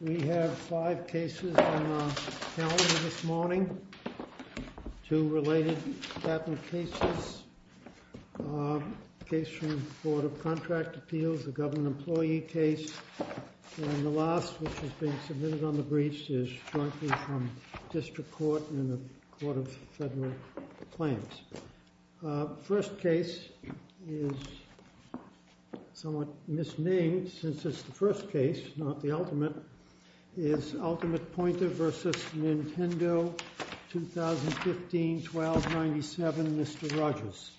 We have five cases on the calendar this morning, two related patent cases, a case from the Board of Contract Appeals, a government employee case, and the last which has been submitted on the briefs is jointly from District Court and the Court of Federal Claims. The first case is somewhat misnamed since it's the first case, not the ultimate, is UltimatePointer v. Nintendo, 2015, 1297, Mr. Rogers.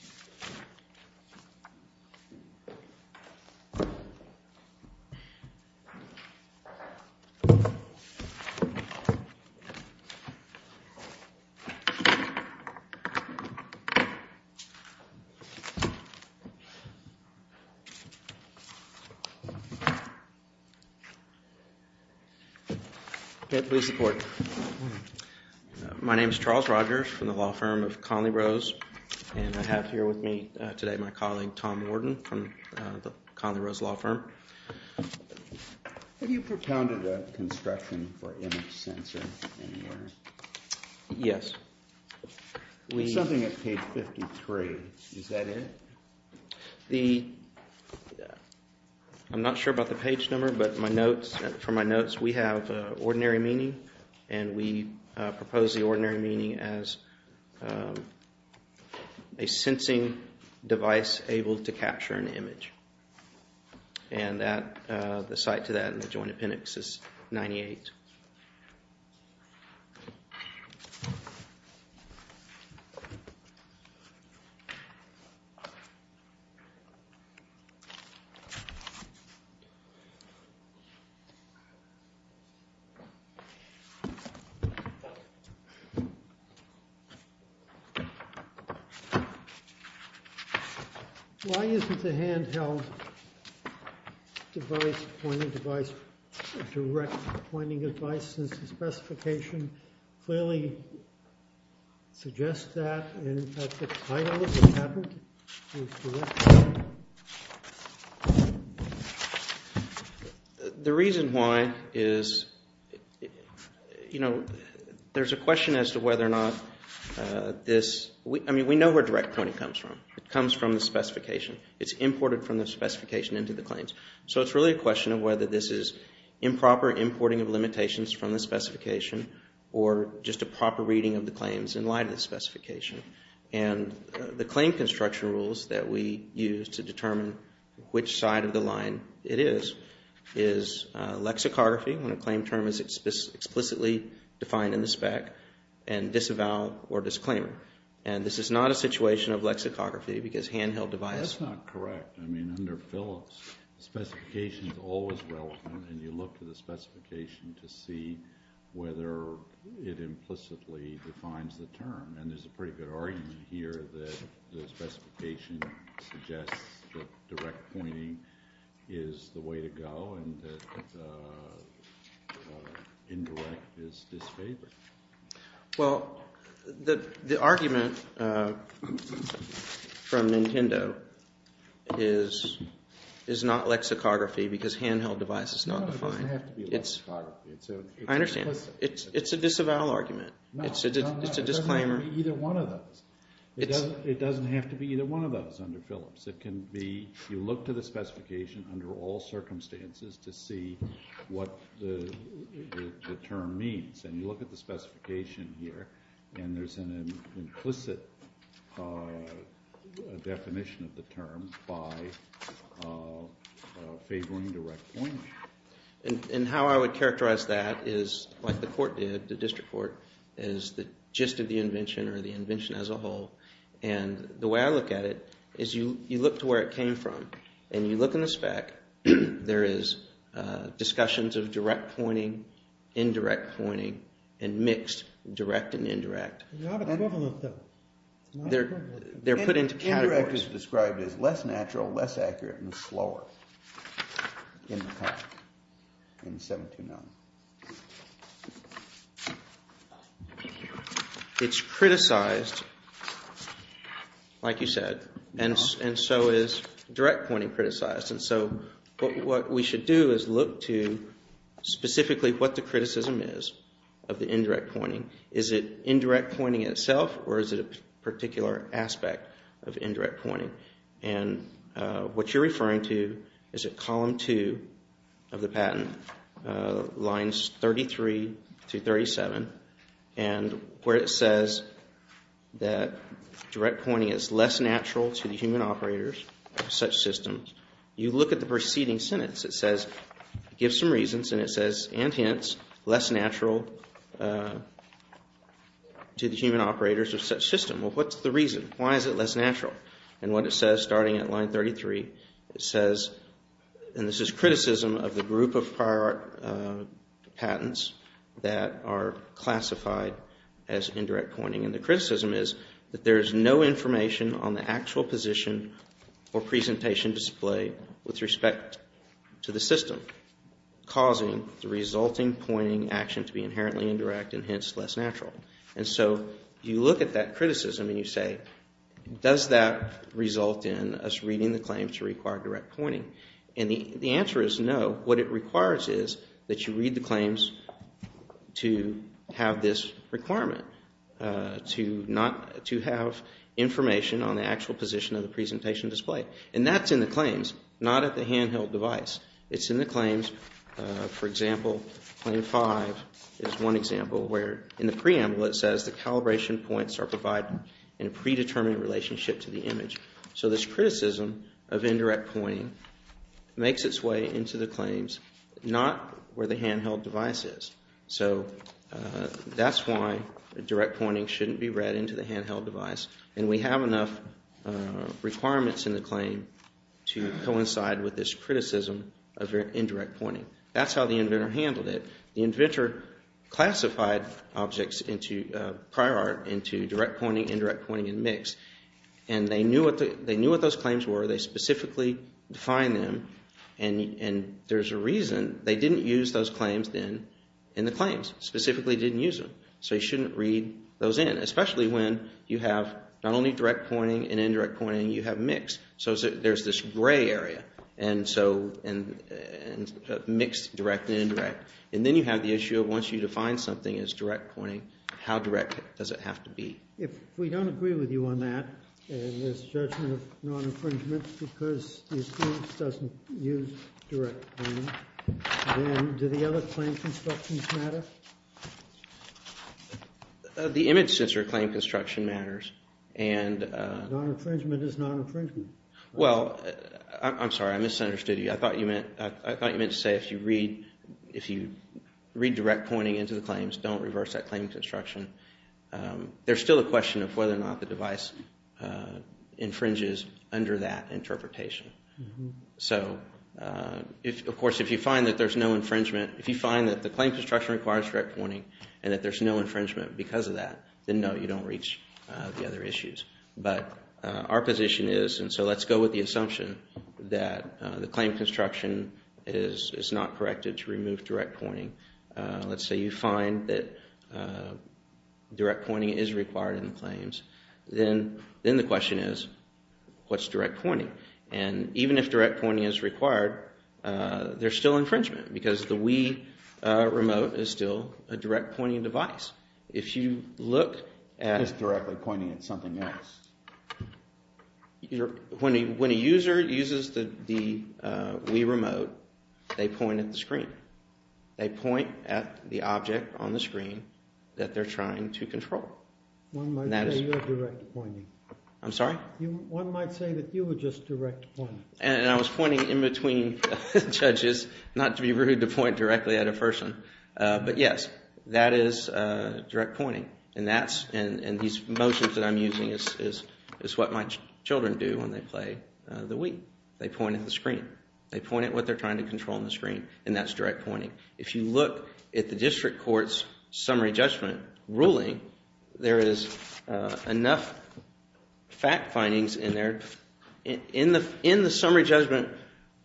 Okay, please report. My name is Charles Rogers from the law firm of Conley Rose, and I have here with me today my colleague Tom Worden from the Conley Rose law firm. Have you propounded a construction for image sensor anywhere? Yes. Something at page 53, is that it? I'm not sure about the page number, but from my notes we have ordinary meaning, and we propose the ordinary meaning as a sensing device able to capture an image, and the site to that in the joint appendix is 98. Why is it the handheld device, pointing device, or direct pointing device? The reason why is, you know, there's a question as to whether or not this, I mean, we know where direct pointing comes from. It comes from the specification. It's imported from the specification into the claims. So it's really a question of whether this is improper importing of limitations from the specification, or just a proper reading of the claims in light of the specification. And the claim construction rules that we use to determine which side of the line it is, is lexicography, when a claim term is explicitly defined in the spec, and disavow or disclaimer. And this is not a situation of lexicography because handheld device. That's not correct. I mean, under Phillips, specification is always relevant, and you look to the specification to see whether it implicitly defines the term. And there's a pretty good argument here that the specification suggests that direct pointing is the way to go, and that indirect is disfavored. Well, the argument from Nintendo is not lexicography because handheld device is not defined. It doesn't have to be lexicography. I understand. It's a disavow argument. It's a disclaimer. It doesn't have to be either one of those. It doesn't have to be either one of those under Phillips. It can be, you look to the specification under all circumstances to see what the term means. And you look at the specification here, and there's an implicit definition of the term by favoring direct pointing. And how I would characterize that is like the court did, the district court, is the gist of the invention or the invention as a whole. And the way I look at it is you look to where it came from, and you look in the spec. There is discussions of direct pointing, indirect pointing, and mixed direct and indirect. They're put into categories. Indirect is described as less natural, less accurate, and slower in the past, in 729. It's criticized, like you said, and so is direct pointing criticized. And so what we should do is look to specifically what the criticism is of the indirect pointing. Is it indirect pointing itself, or is it a particular aspect of indirect pointing? And what you're referring to is at column 2 of the patent, lines 33 to 37, and where it says that direct pointing is less natural to the human operators of such systems, you look at the preceding sentence. It gives some reasons, and it says, and hints, less natural to the human operators of such systems. Well, what's the reason? Why is it less natural? And what it says, starting at line 33, it says, and this is criticism of the group of prior patents that are classified as indirect pointing. And the criticism is that there is no information on the actual position or presentation display with respect to the system, causing the resulting pointing action to be inherently indirect and hence less natural. And so you look at that criticism and you say, does that result in us reading the claims to require direct pointing? And the answer is no. What it requires is that you read the claims to have this requirement, to have information on the actual position of the presentation display. And that's in the claims, not at the handheld device. It's in the claims. For example, claim 5 is one example where in the preamble it says, the calibration points are provided in a predetermined relationship to the image. So this criticism of indirect pointing makes its way into the claims, not where the handheld device is. So that's why direct pointing shouldn't be read into the handheld device. And we have enough requirements in the claim to coincide with this criticism of indirect pointing. That's how the inventor handled it. The inventor classified objects into prior art, into direct pointing, indirect pointing, and mix. And they knew what those claims were. They specifically defined them. And there's a reason they didn't use those claims then in the claims, specifically didn't use them. So you shouldn't read those in, especially when you have not only direct pointing and indirect pointing. You have mix. So there's this gray area, mixed, direct, and indirect. And then you have the issue of once you define something as direct pointing, how direct does it have to be? If we don't agree with you on that, and there's judgment of non-infringement because the experience doesn't use direct pointing, then do the other claim constructions matter? The image sensor claim construction matters. Non-infringement is non-infringement. Well, I'm sorry. I misunderstood you. I thought you meant to say if you read direct pointing into the claims, don't reverse that claim construction. There's still a question of whether or not the device infringes under that interpretation. So, of course, if you find that there's no infringement, if you find that the claim construction requires direct pointing, and that there's no infringement because of that, then no, you don't reach the other issues. But our position is, and so let's go with the assumption that the claim construction is not corrected to remove direct pointing. Let's say you find that direct pointing is required in the claims. Then the question is, what's direct pointing? And even if direct pointing is required, there's still infringement because the Wii remote is still a direct pointing device. If you look at… It's directly pointing at something else. When a user uses the Wii remote, they point at the screen. They point at the object on the screen that they're trying to control. One might say you have direct pointing. I'm sorry? One might say that you are just direct pointing. And I was pointing in between judges, not to be rude to point directly at a person. But yes, that is direct pointing. And these motions that I'm using is what my children do when they play the Wii. They point at the screen. They point at what they're trying to control on the screen, and that's direct pointing. If you look at the district court's summary judgment ruling, there is enough fact findings in there. In the summary judgment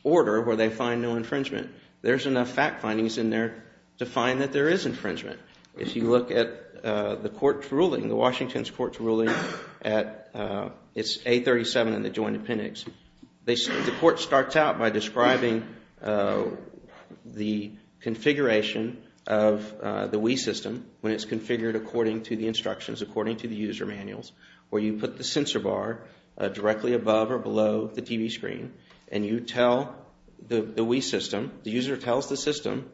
order where they find no infringement, there's enough fact findings in there to find that there is infringement. If you look at the court's ruling, Washington's court's ruling, it's 837 in the Joint Appendix. The court starts out by describing the configuration of the Wii system when it's configured according to the instructions, according to the user manuals, where you put the sensor bar directly above or below the TV screen, and you tell the Wii system, the user tells the system,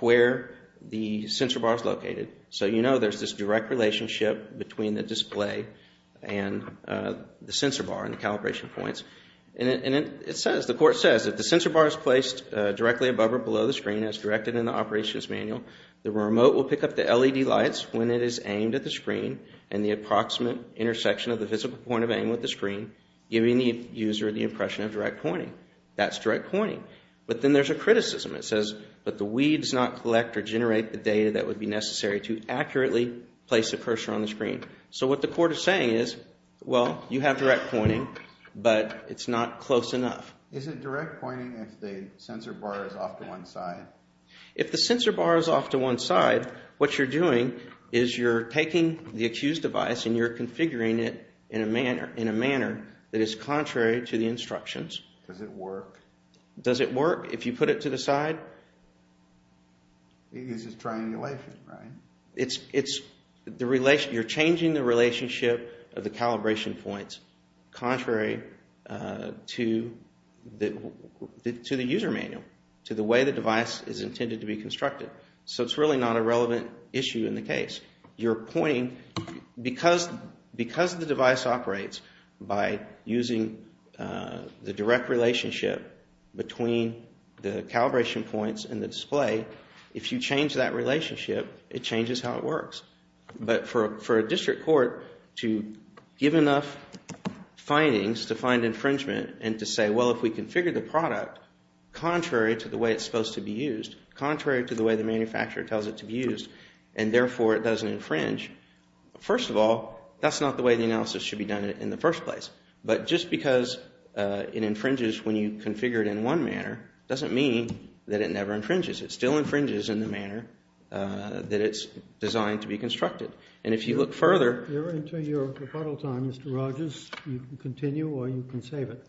where the sensor bar is located. So you know there's this direct relationship between the display and the sensor bar and the calibration points. And it says, the court says, if the sensor bar is placed directly above or below the screen as directed in the operations manual, the remote will pick up the LED lights when it is aimed at the screen and the approximate intersection of the physical point of aim with the screen, giving the user the impression of direct pointing. That's direct pointing. But then there's a criticism. It says, but the Wii does not collect or generate the data that would be necessary to accurately place the cursor on the screen. So what the court is saying is, well, you have direct pointing, but it's not close enough. Is it direct pointing if the sensor bar is off to one side? If the sensor bar is off to one side, what you're doing is you're taking the accused device and you're configuring it in a manner that is contrary to the instructions. Does it work? Does it work if you put it to the side? It uses triangulation, right? You're changing the relationship of the calibration points contrary to the user manual, to the way the device is intended to be constructed. So it's really not a relevant issue in the case. Because the device operates by using the direct relationship between the calibration points and the display, if you change that relationship, it changes how it works. But for a district court to give enough findings to find infringement and to say, well, if we configure the product contrary to the way it's supposed to be used, contrary to the way the manufacturer tells it to be used, and therefore it doesn't infringe, first of all, that's not the way the analysis should be done in the first place. But just because it infringes when you configure it in one manner doesn't mean that it never infringes. It still infringes in the manner that it's designed to be constructed. You're into your rebuttal time, Mr. Rogers. You can continue or you can save it.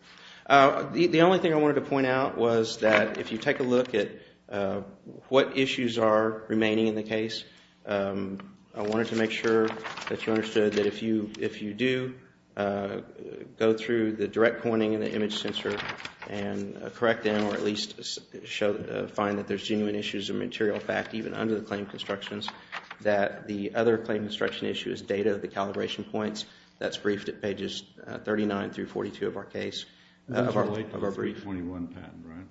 The only thing I wanted to point out was that if you take a look at what issues are remaining in the case, I wanted to make sure that you understood that if you do go through the direct pointing in the image sensor and correct them or at least find that there's genuine issues of material fact, even under the claim constructions, that the other claim construction issue is data of the calibration points. That's briefed at pages 39 through 42 of our case. Of our 321 patent,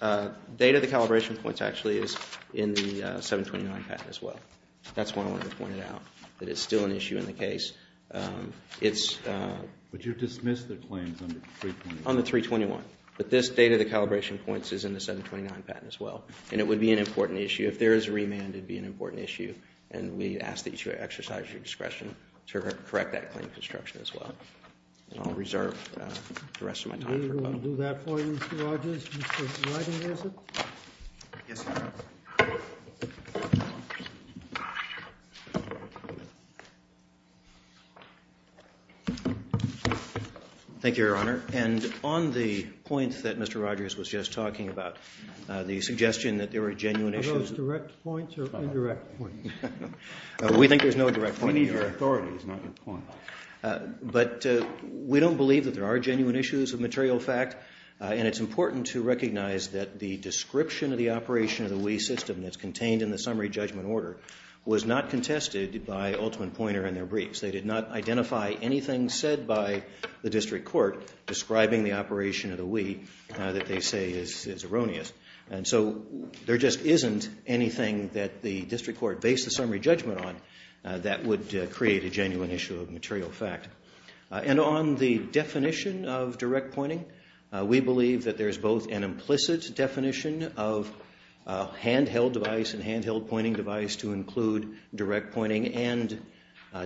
right? Data of the calibration points actually is in the 729 patent as well. That's why I wanted to point it out, that it's still an issue in the case. But you've dismissed the claims on the 321. On the 321. But this data of the calibration points is in the 729 patent as well. And it would be an important issue. If there is a remand, it would be an important issue. And we ask that you exercise your discretion to correct that claim construction as well. And I'll reserve the rest of my time for a vote. We're going to do that for you, Mr. Rogers. Mr. Ridinger is it? Yes, sir. Thank you, Your Honor. And on the point that Mr. Rogers was just talking about, the suggestion that there were genuine issues. Are those direct points or indirect points? We think there's no direct point here. We need your authority, not your point. But we don't believe that there are genuine issues of material fact. And it's important to recognize that the description of the operation of the Wii system that's contained in the summary judgment order was not contested by Altman Poynter in their briefs. They did not identify anything said by the district court describing the operation of the Wii that they say is erroneous. And so there just isn't anything that the district court based the summary judgment on that would create a genuine issue of material fact. And on the definition of direct pointing, we believe that there's both an implicit definition of handheld device and handheld pointing device to include direct pointing and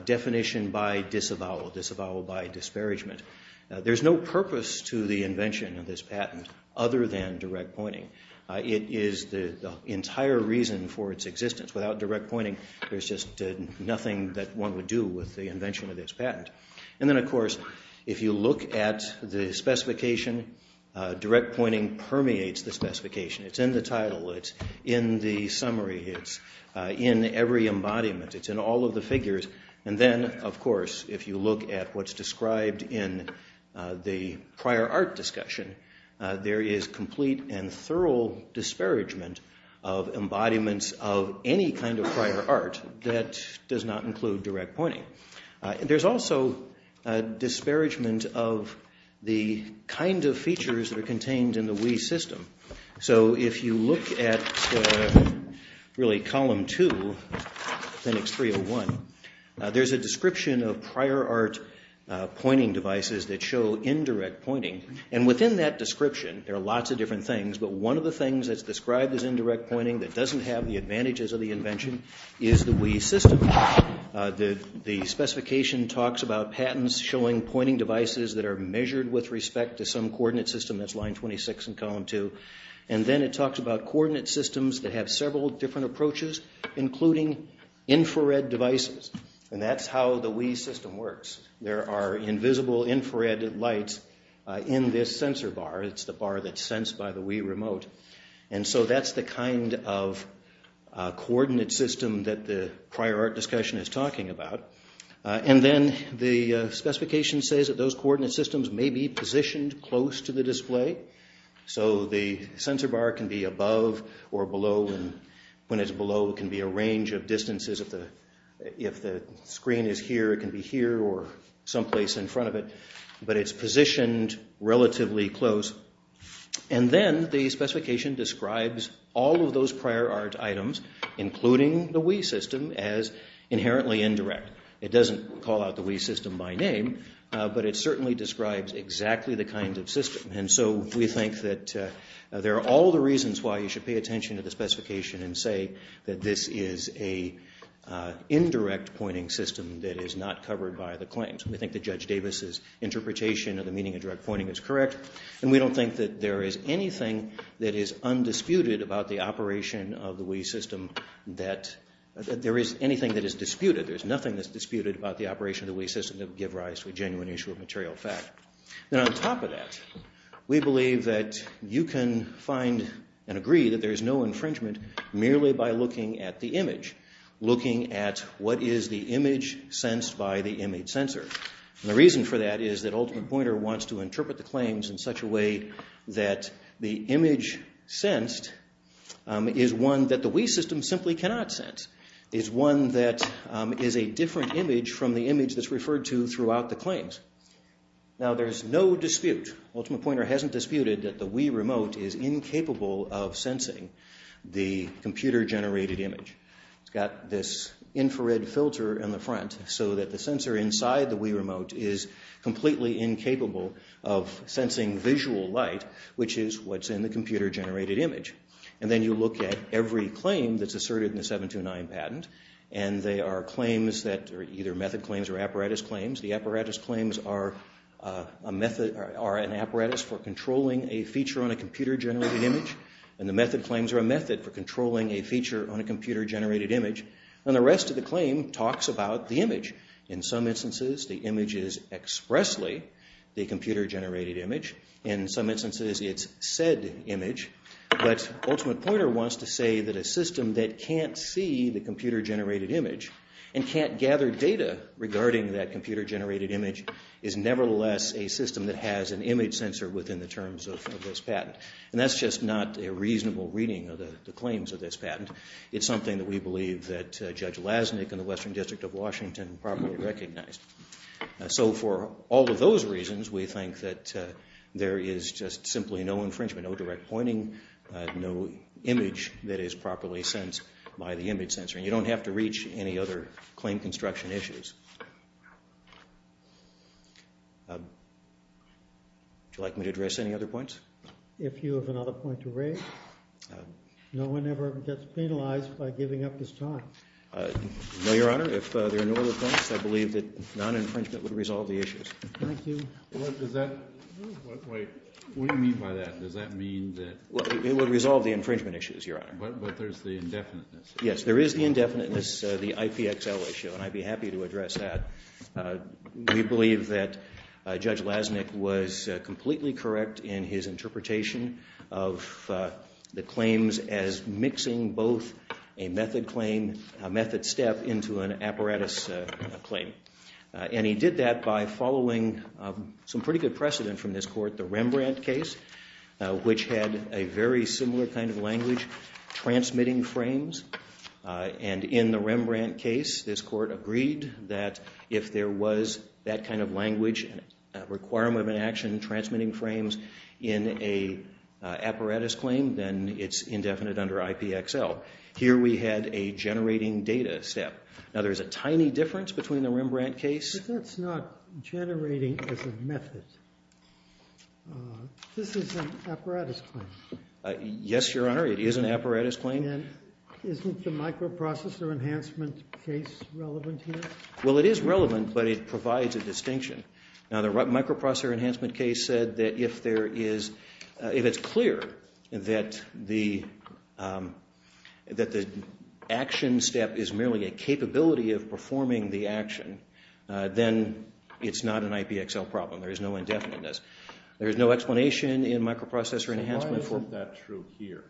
definition by disavowal, disavowal by disparagement. There's no purpose to the invention of this patent other than direct pointing. It is the entire reason for its existence. Without direct pointing, there's just nothing that one would do with the invention of this patent. And then, of course, if you look at the specification, direct pointing permeates the specification. It's in the title. It's in the summary. It's in every embodiment. It's in all of the figures. And then, of course, if you look at what's described in the prior art discussion, there is complete and thorough disparagement of embodiments of any kind of prior art that does not include direct pointing. There's also disparagement of the kind of features that are contained in the Wii system. So if you look at, really, column two, Linux 301, there's a description of prior art pointing devices that show indirect pointing. And within that description, there are lots of different things, but one of the things that's described as indirect pointing that doesn't have the advantages of the invention is the Wii system. The specification talks about patents showing pointing devices that are measured with respect to some coordinate system. That's line 26 in column two. And then it talks about coordinate systems that have several different approaches, including infrared devices. And that's how the Wii system works. There are invisible infrared lights in this sensor bar. It's the bar that's sensed by the Wii remote. And so that's the kind of coordinate system that the prior art discussion is talking about. And then the specification says that those coordinate systems may be positioned close to the display. So the sensor bar can be above or below. And when it's below, it can be a range of distances. If the screen is here, it can be here or someplace in front of it. But it's positioned relatively close. And then the specification describes all of those prior art items, including the Wii system, as inherently indirect. It doesn't call out the Wii system by name, but it certainly describes exactly the kind of system. And so we think that there are all the reasons why you should pay attention to the specification and say that this is an indirect pointing system that is not covered by the claims. We think that Judge Davis's interpretation of the meaning of direct pointing is correct. And we don't think that there is anything that is undisputed about the operation of the Wii system. That there is anything that is disputed. There's nothing that's disputed about the operation of the Wii system that would give rise to a genuine issue of material fact. And on top of that, we believe that you can find and agree that there's no infringement merely by looking at the image. Looking at what is the image sensed by the image sensor. And the reason for that is that Ultimate Pointer wants to interpret the claims in such a way that the image sensed is one that the Wii system simply cannot sense. It's one that is a different image from the image that's referred to throughout the claims. Now there's no dispute, Ultimate Pointer hasn't disputed, that the Wii remote is incapable of sensing the computer generated image. It's got this infrared filter in the front so that the sensor inside the Wii remote is completely incapable of sensing visual light, which is what's in the computer generated image. And then you look at every claim that's asserted in the 729 patent. And they are claims that are either method claims or apparatus claims. The apparatus claims are an apparatus for controlling a feature on a computer generated image. And the method claims are a method for controlling a feature on a computer generated image. And the rest of the claim talks about the image. In some instances, the image is expressly the computer generated image. In some instances, it's said image. But Ultimate Pointer wants to say that a system that can't see the computer generated image and can't gather data regarding that computer generated image is nevertheless a system that has an image sensor within the terms of this patent. And that's just not a reasonable reading of the claims of this patent. It's something that we believe that Judge Lasnik in the Western District of Washington properly recognized. So for all of those reasons, we think that there is just simply no infringement, no direct pointing, no image that is properly sensed by the image sensor. And you don't have to reach any other claim construction issues. Would you like me to address any other points? If you have another point to raise, no one ever gets penalized by giving up his time. No, Your Honor. If there are no other points, I believe that non-infringement would resolve the issues. Thank you. What does that – wait. What do you mean by that? Does that mean that – Well, it would resolve the infringement issues, Your Honor. But there's the indefiniteness. Yes, there is the indefiniteness, the IPXL issue. And I'd be happy to address that. We believe that Judge Lasnik was completely correct in his interpretation of the claims as mixing both a method claim, a method step, into an apparatus claim. And he did that by following some pretty good precedent from this court, the Rembrandt case, which had a very similar kind of language, transmitting frames. And in the Rembrandt case, this court agreed that if there was that kind of language, a requirement of an action, transmitting frames, in an apparatus claim, then it's indefinite under IPXL. Here we had a generating data step. Now, there's a tiny difference between the Rembrandt case – But that's not generating as a method. This is an apparatus claim. Yes, Your Honor. It is an apparatus claim. Isn't the microprocessor enhancement case relevant here? Well, it is relevant, but it provides a distinction. Now, the microprocessor enhancement case said that if it's clear that the action step is merely a capability of performing the action, then it's not an IPXL problem. There is no indefiniteness. There is no explanation in microprocessor enhancement for – Why isn't that true here?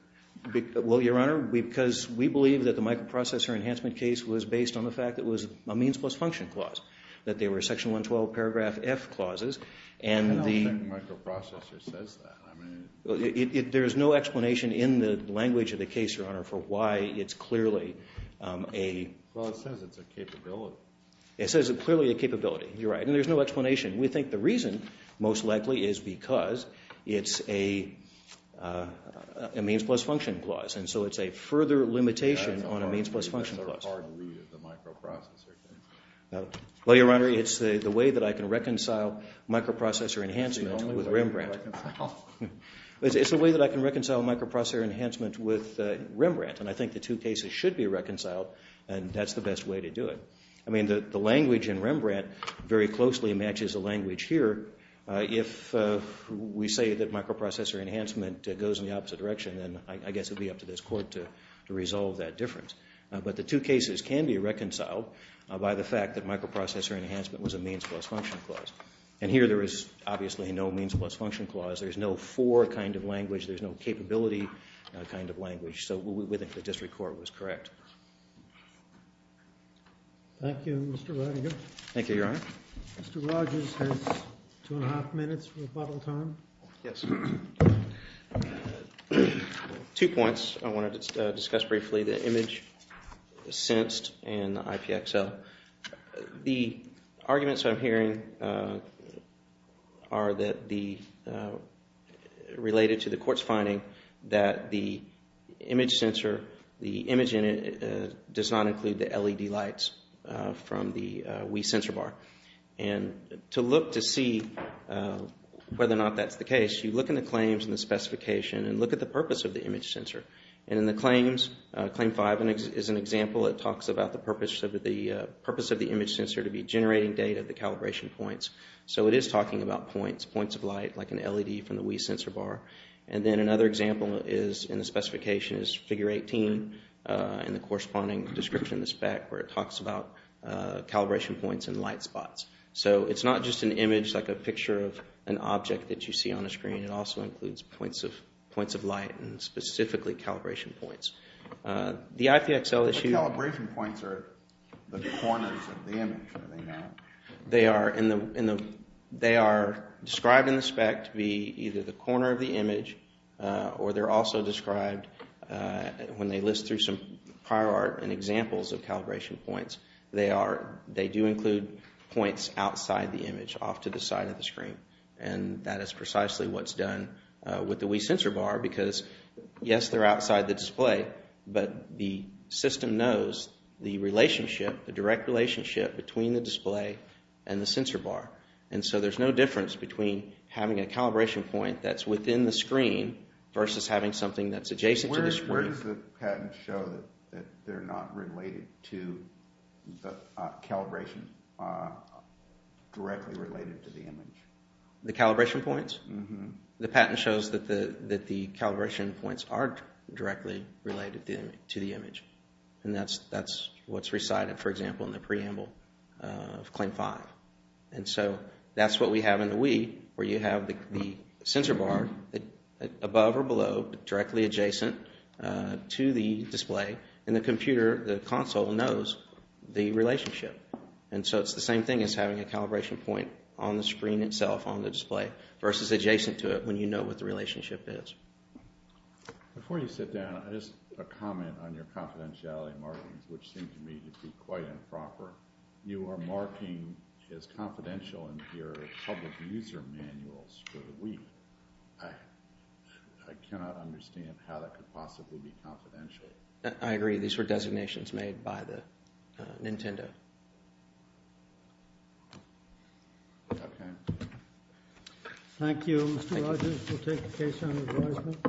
Well, Your Honor, because we believe that the microprocessor enhancement case was based on the fact that it was a means plus function clause, that they were section 112 paragraph F clauses, and the – I don't think microprocessor says that. I mean – There is no explanation in the language of the case, Your Honor, for why it's clearly a – Well, it says it's a capability. It says it's clearly a capability. You're right. And there's no explanation. We think the reason, most likely, is because it's a means plus function clause, and so it's a further limitation on a means plus function clause. That's a hard read of the microprocessor case. Well, Your Honor, it's the way that I can reconcile microprocessor enhancement with Rembrandt. It's the way that I can reconcile microprocessor enhancement with Rembrandt, and I think the two cases should be reconciled, and that's the best way to do it. I mean, the language in Rembrandt very closely matches the language here. If we say that microprocessor enhancement goes in the opposite direction, then I guess it would be up to this Court to resolve that difference. But the two cases can be reconciled by the fact that microprocessor enhancement was a means plus function clause. And here there is obviously no means plus function clause. There's no for kind of language. There's no capability kind of language. So we think the district court was correct. Thank you, Mr. Roediger. Thank you, Your Honor. Mr. Rogers has two and a half minutes for rebuttal time. Yes. Two points I want to discuss briefly, the image sensed and the IPXL. The arguments I'm hearing are related to the court's finding that the image sensor, the image in it does not include the LED lights from the Wii sensor bar. And to look to see whether or not that's the case, you look in the claims and the specification and look at the purpose of the image sensor. And in the claims, claim five is an example. It talks about the purpose of the image sensor to be generating data, the calibration points. So it is talking about points, points of light, like an LED from the Wii sensor bar. And then another example in the specification is figure 18 in the corresponding description, the spec, where it talks about calibration points and light spots. So it's not just an image, like a picture of an object that you see on a screen. It also includes points of light and specifically calibration points. The IPXL issue… The calibration points are the corners of the image, are they not? They are described in the spec to be either the corner of the image or they're also described when they list through some prior art and examples of calibration points. They do include points outside the image, off to the side of the screen. And that is precisely what's done with the Wii sensor bar because, yes, they're outside the display. But the system knows the relationship, the direct relationship between the display and the sensor bar. And so there's no difference between having a calibration point that's within the screen versus having something that's adjacent to the screen. Where does the patent show that they're not related to the calibration, directly related to the image? The calibration points? The patent shows that the calibration points are directly related to the image. And that's what's recited, for example, in the preamble of Claim 5. And so that's what we have in the Wii, where you have the sensor bar above or below, directly adjacent to the display. And the computer, the console, knows the relationship. And so it's the same thing as having a calibration point on the screen itself, on the display, versus adjacent to it when you know what the relationship is. Before you sit down, just a comment on your confidentiality markings, which seem to me to be quite improper. You are marking as confidential in your public user manuals for the Wii. I cannot understand how that could possibly be confidential. I agree. These were designations made by the Nintendo. Okay. Thank you. Mr. Rogers, we'll take the case on advisement.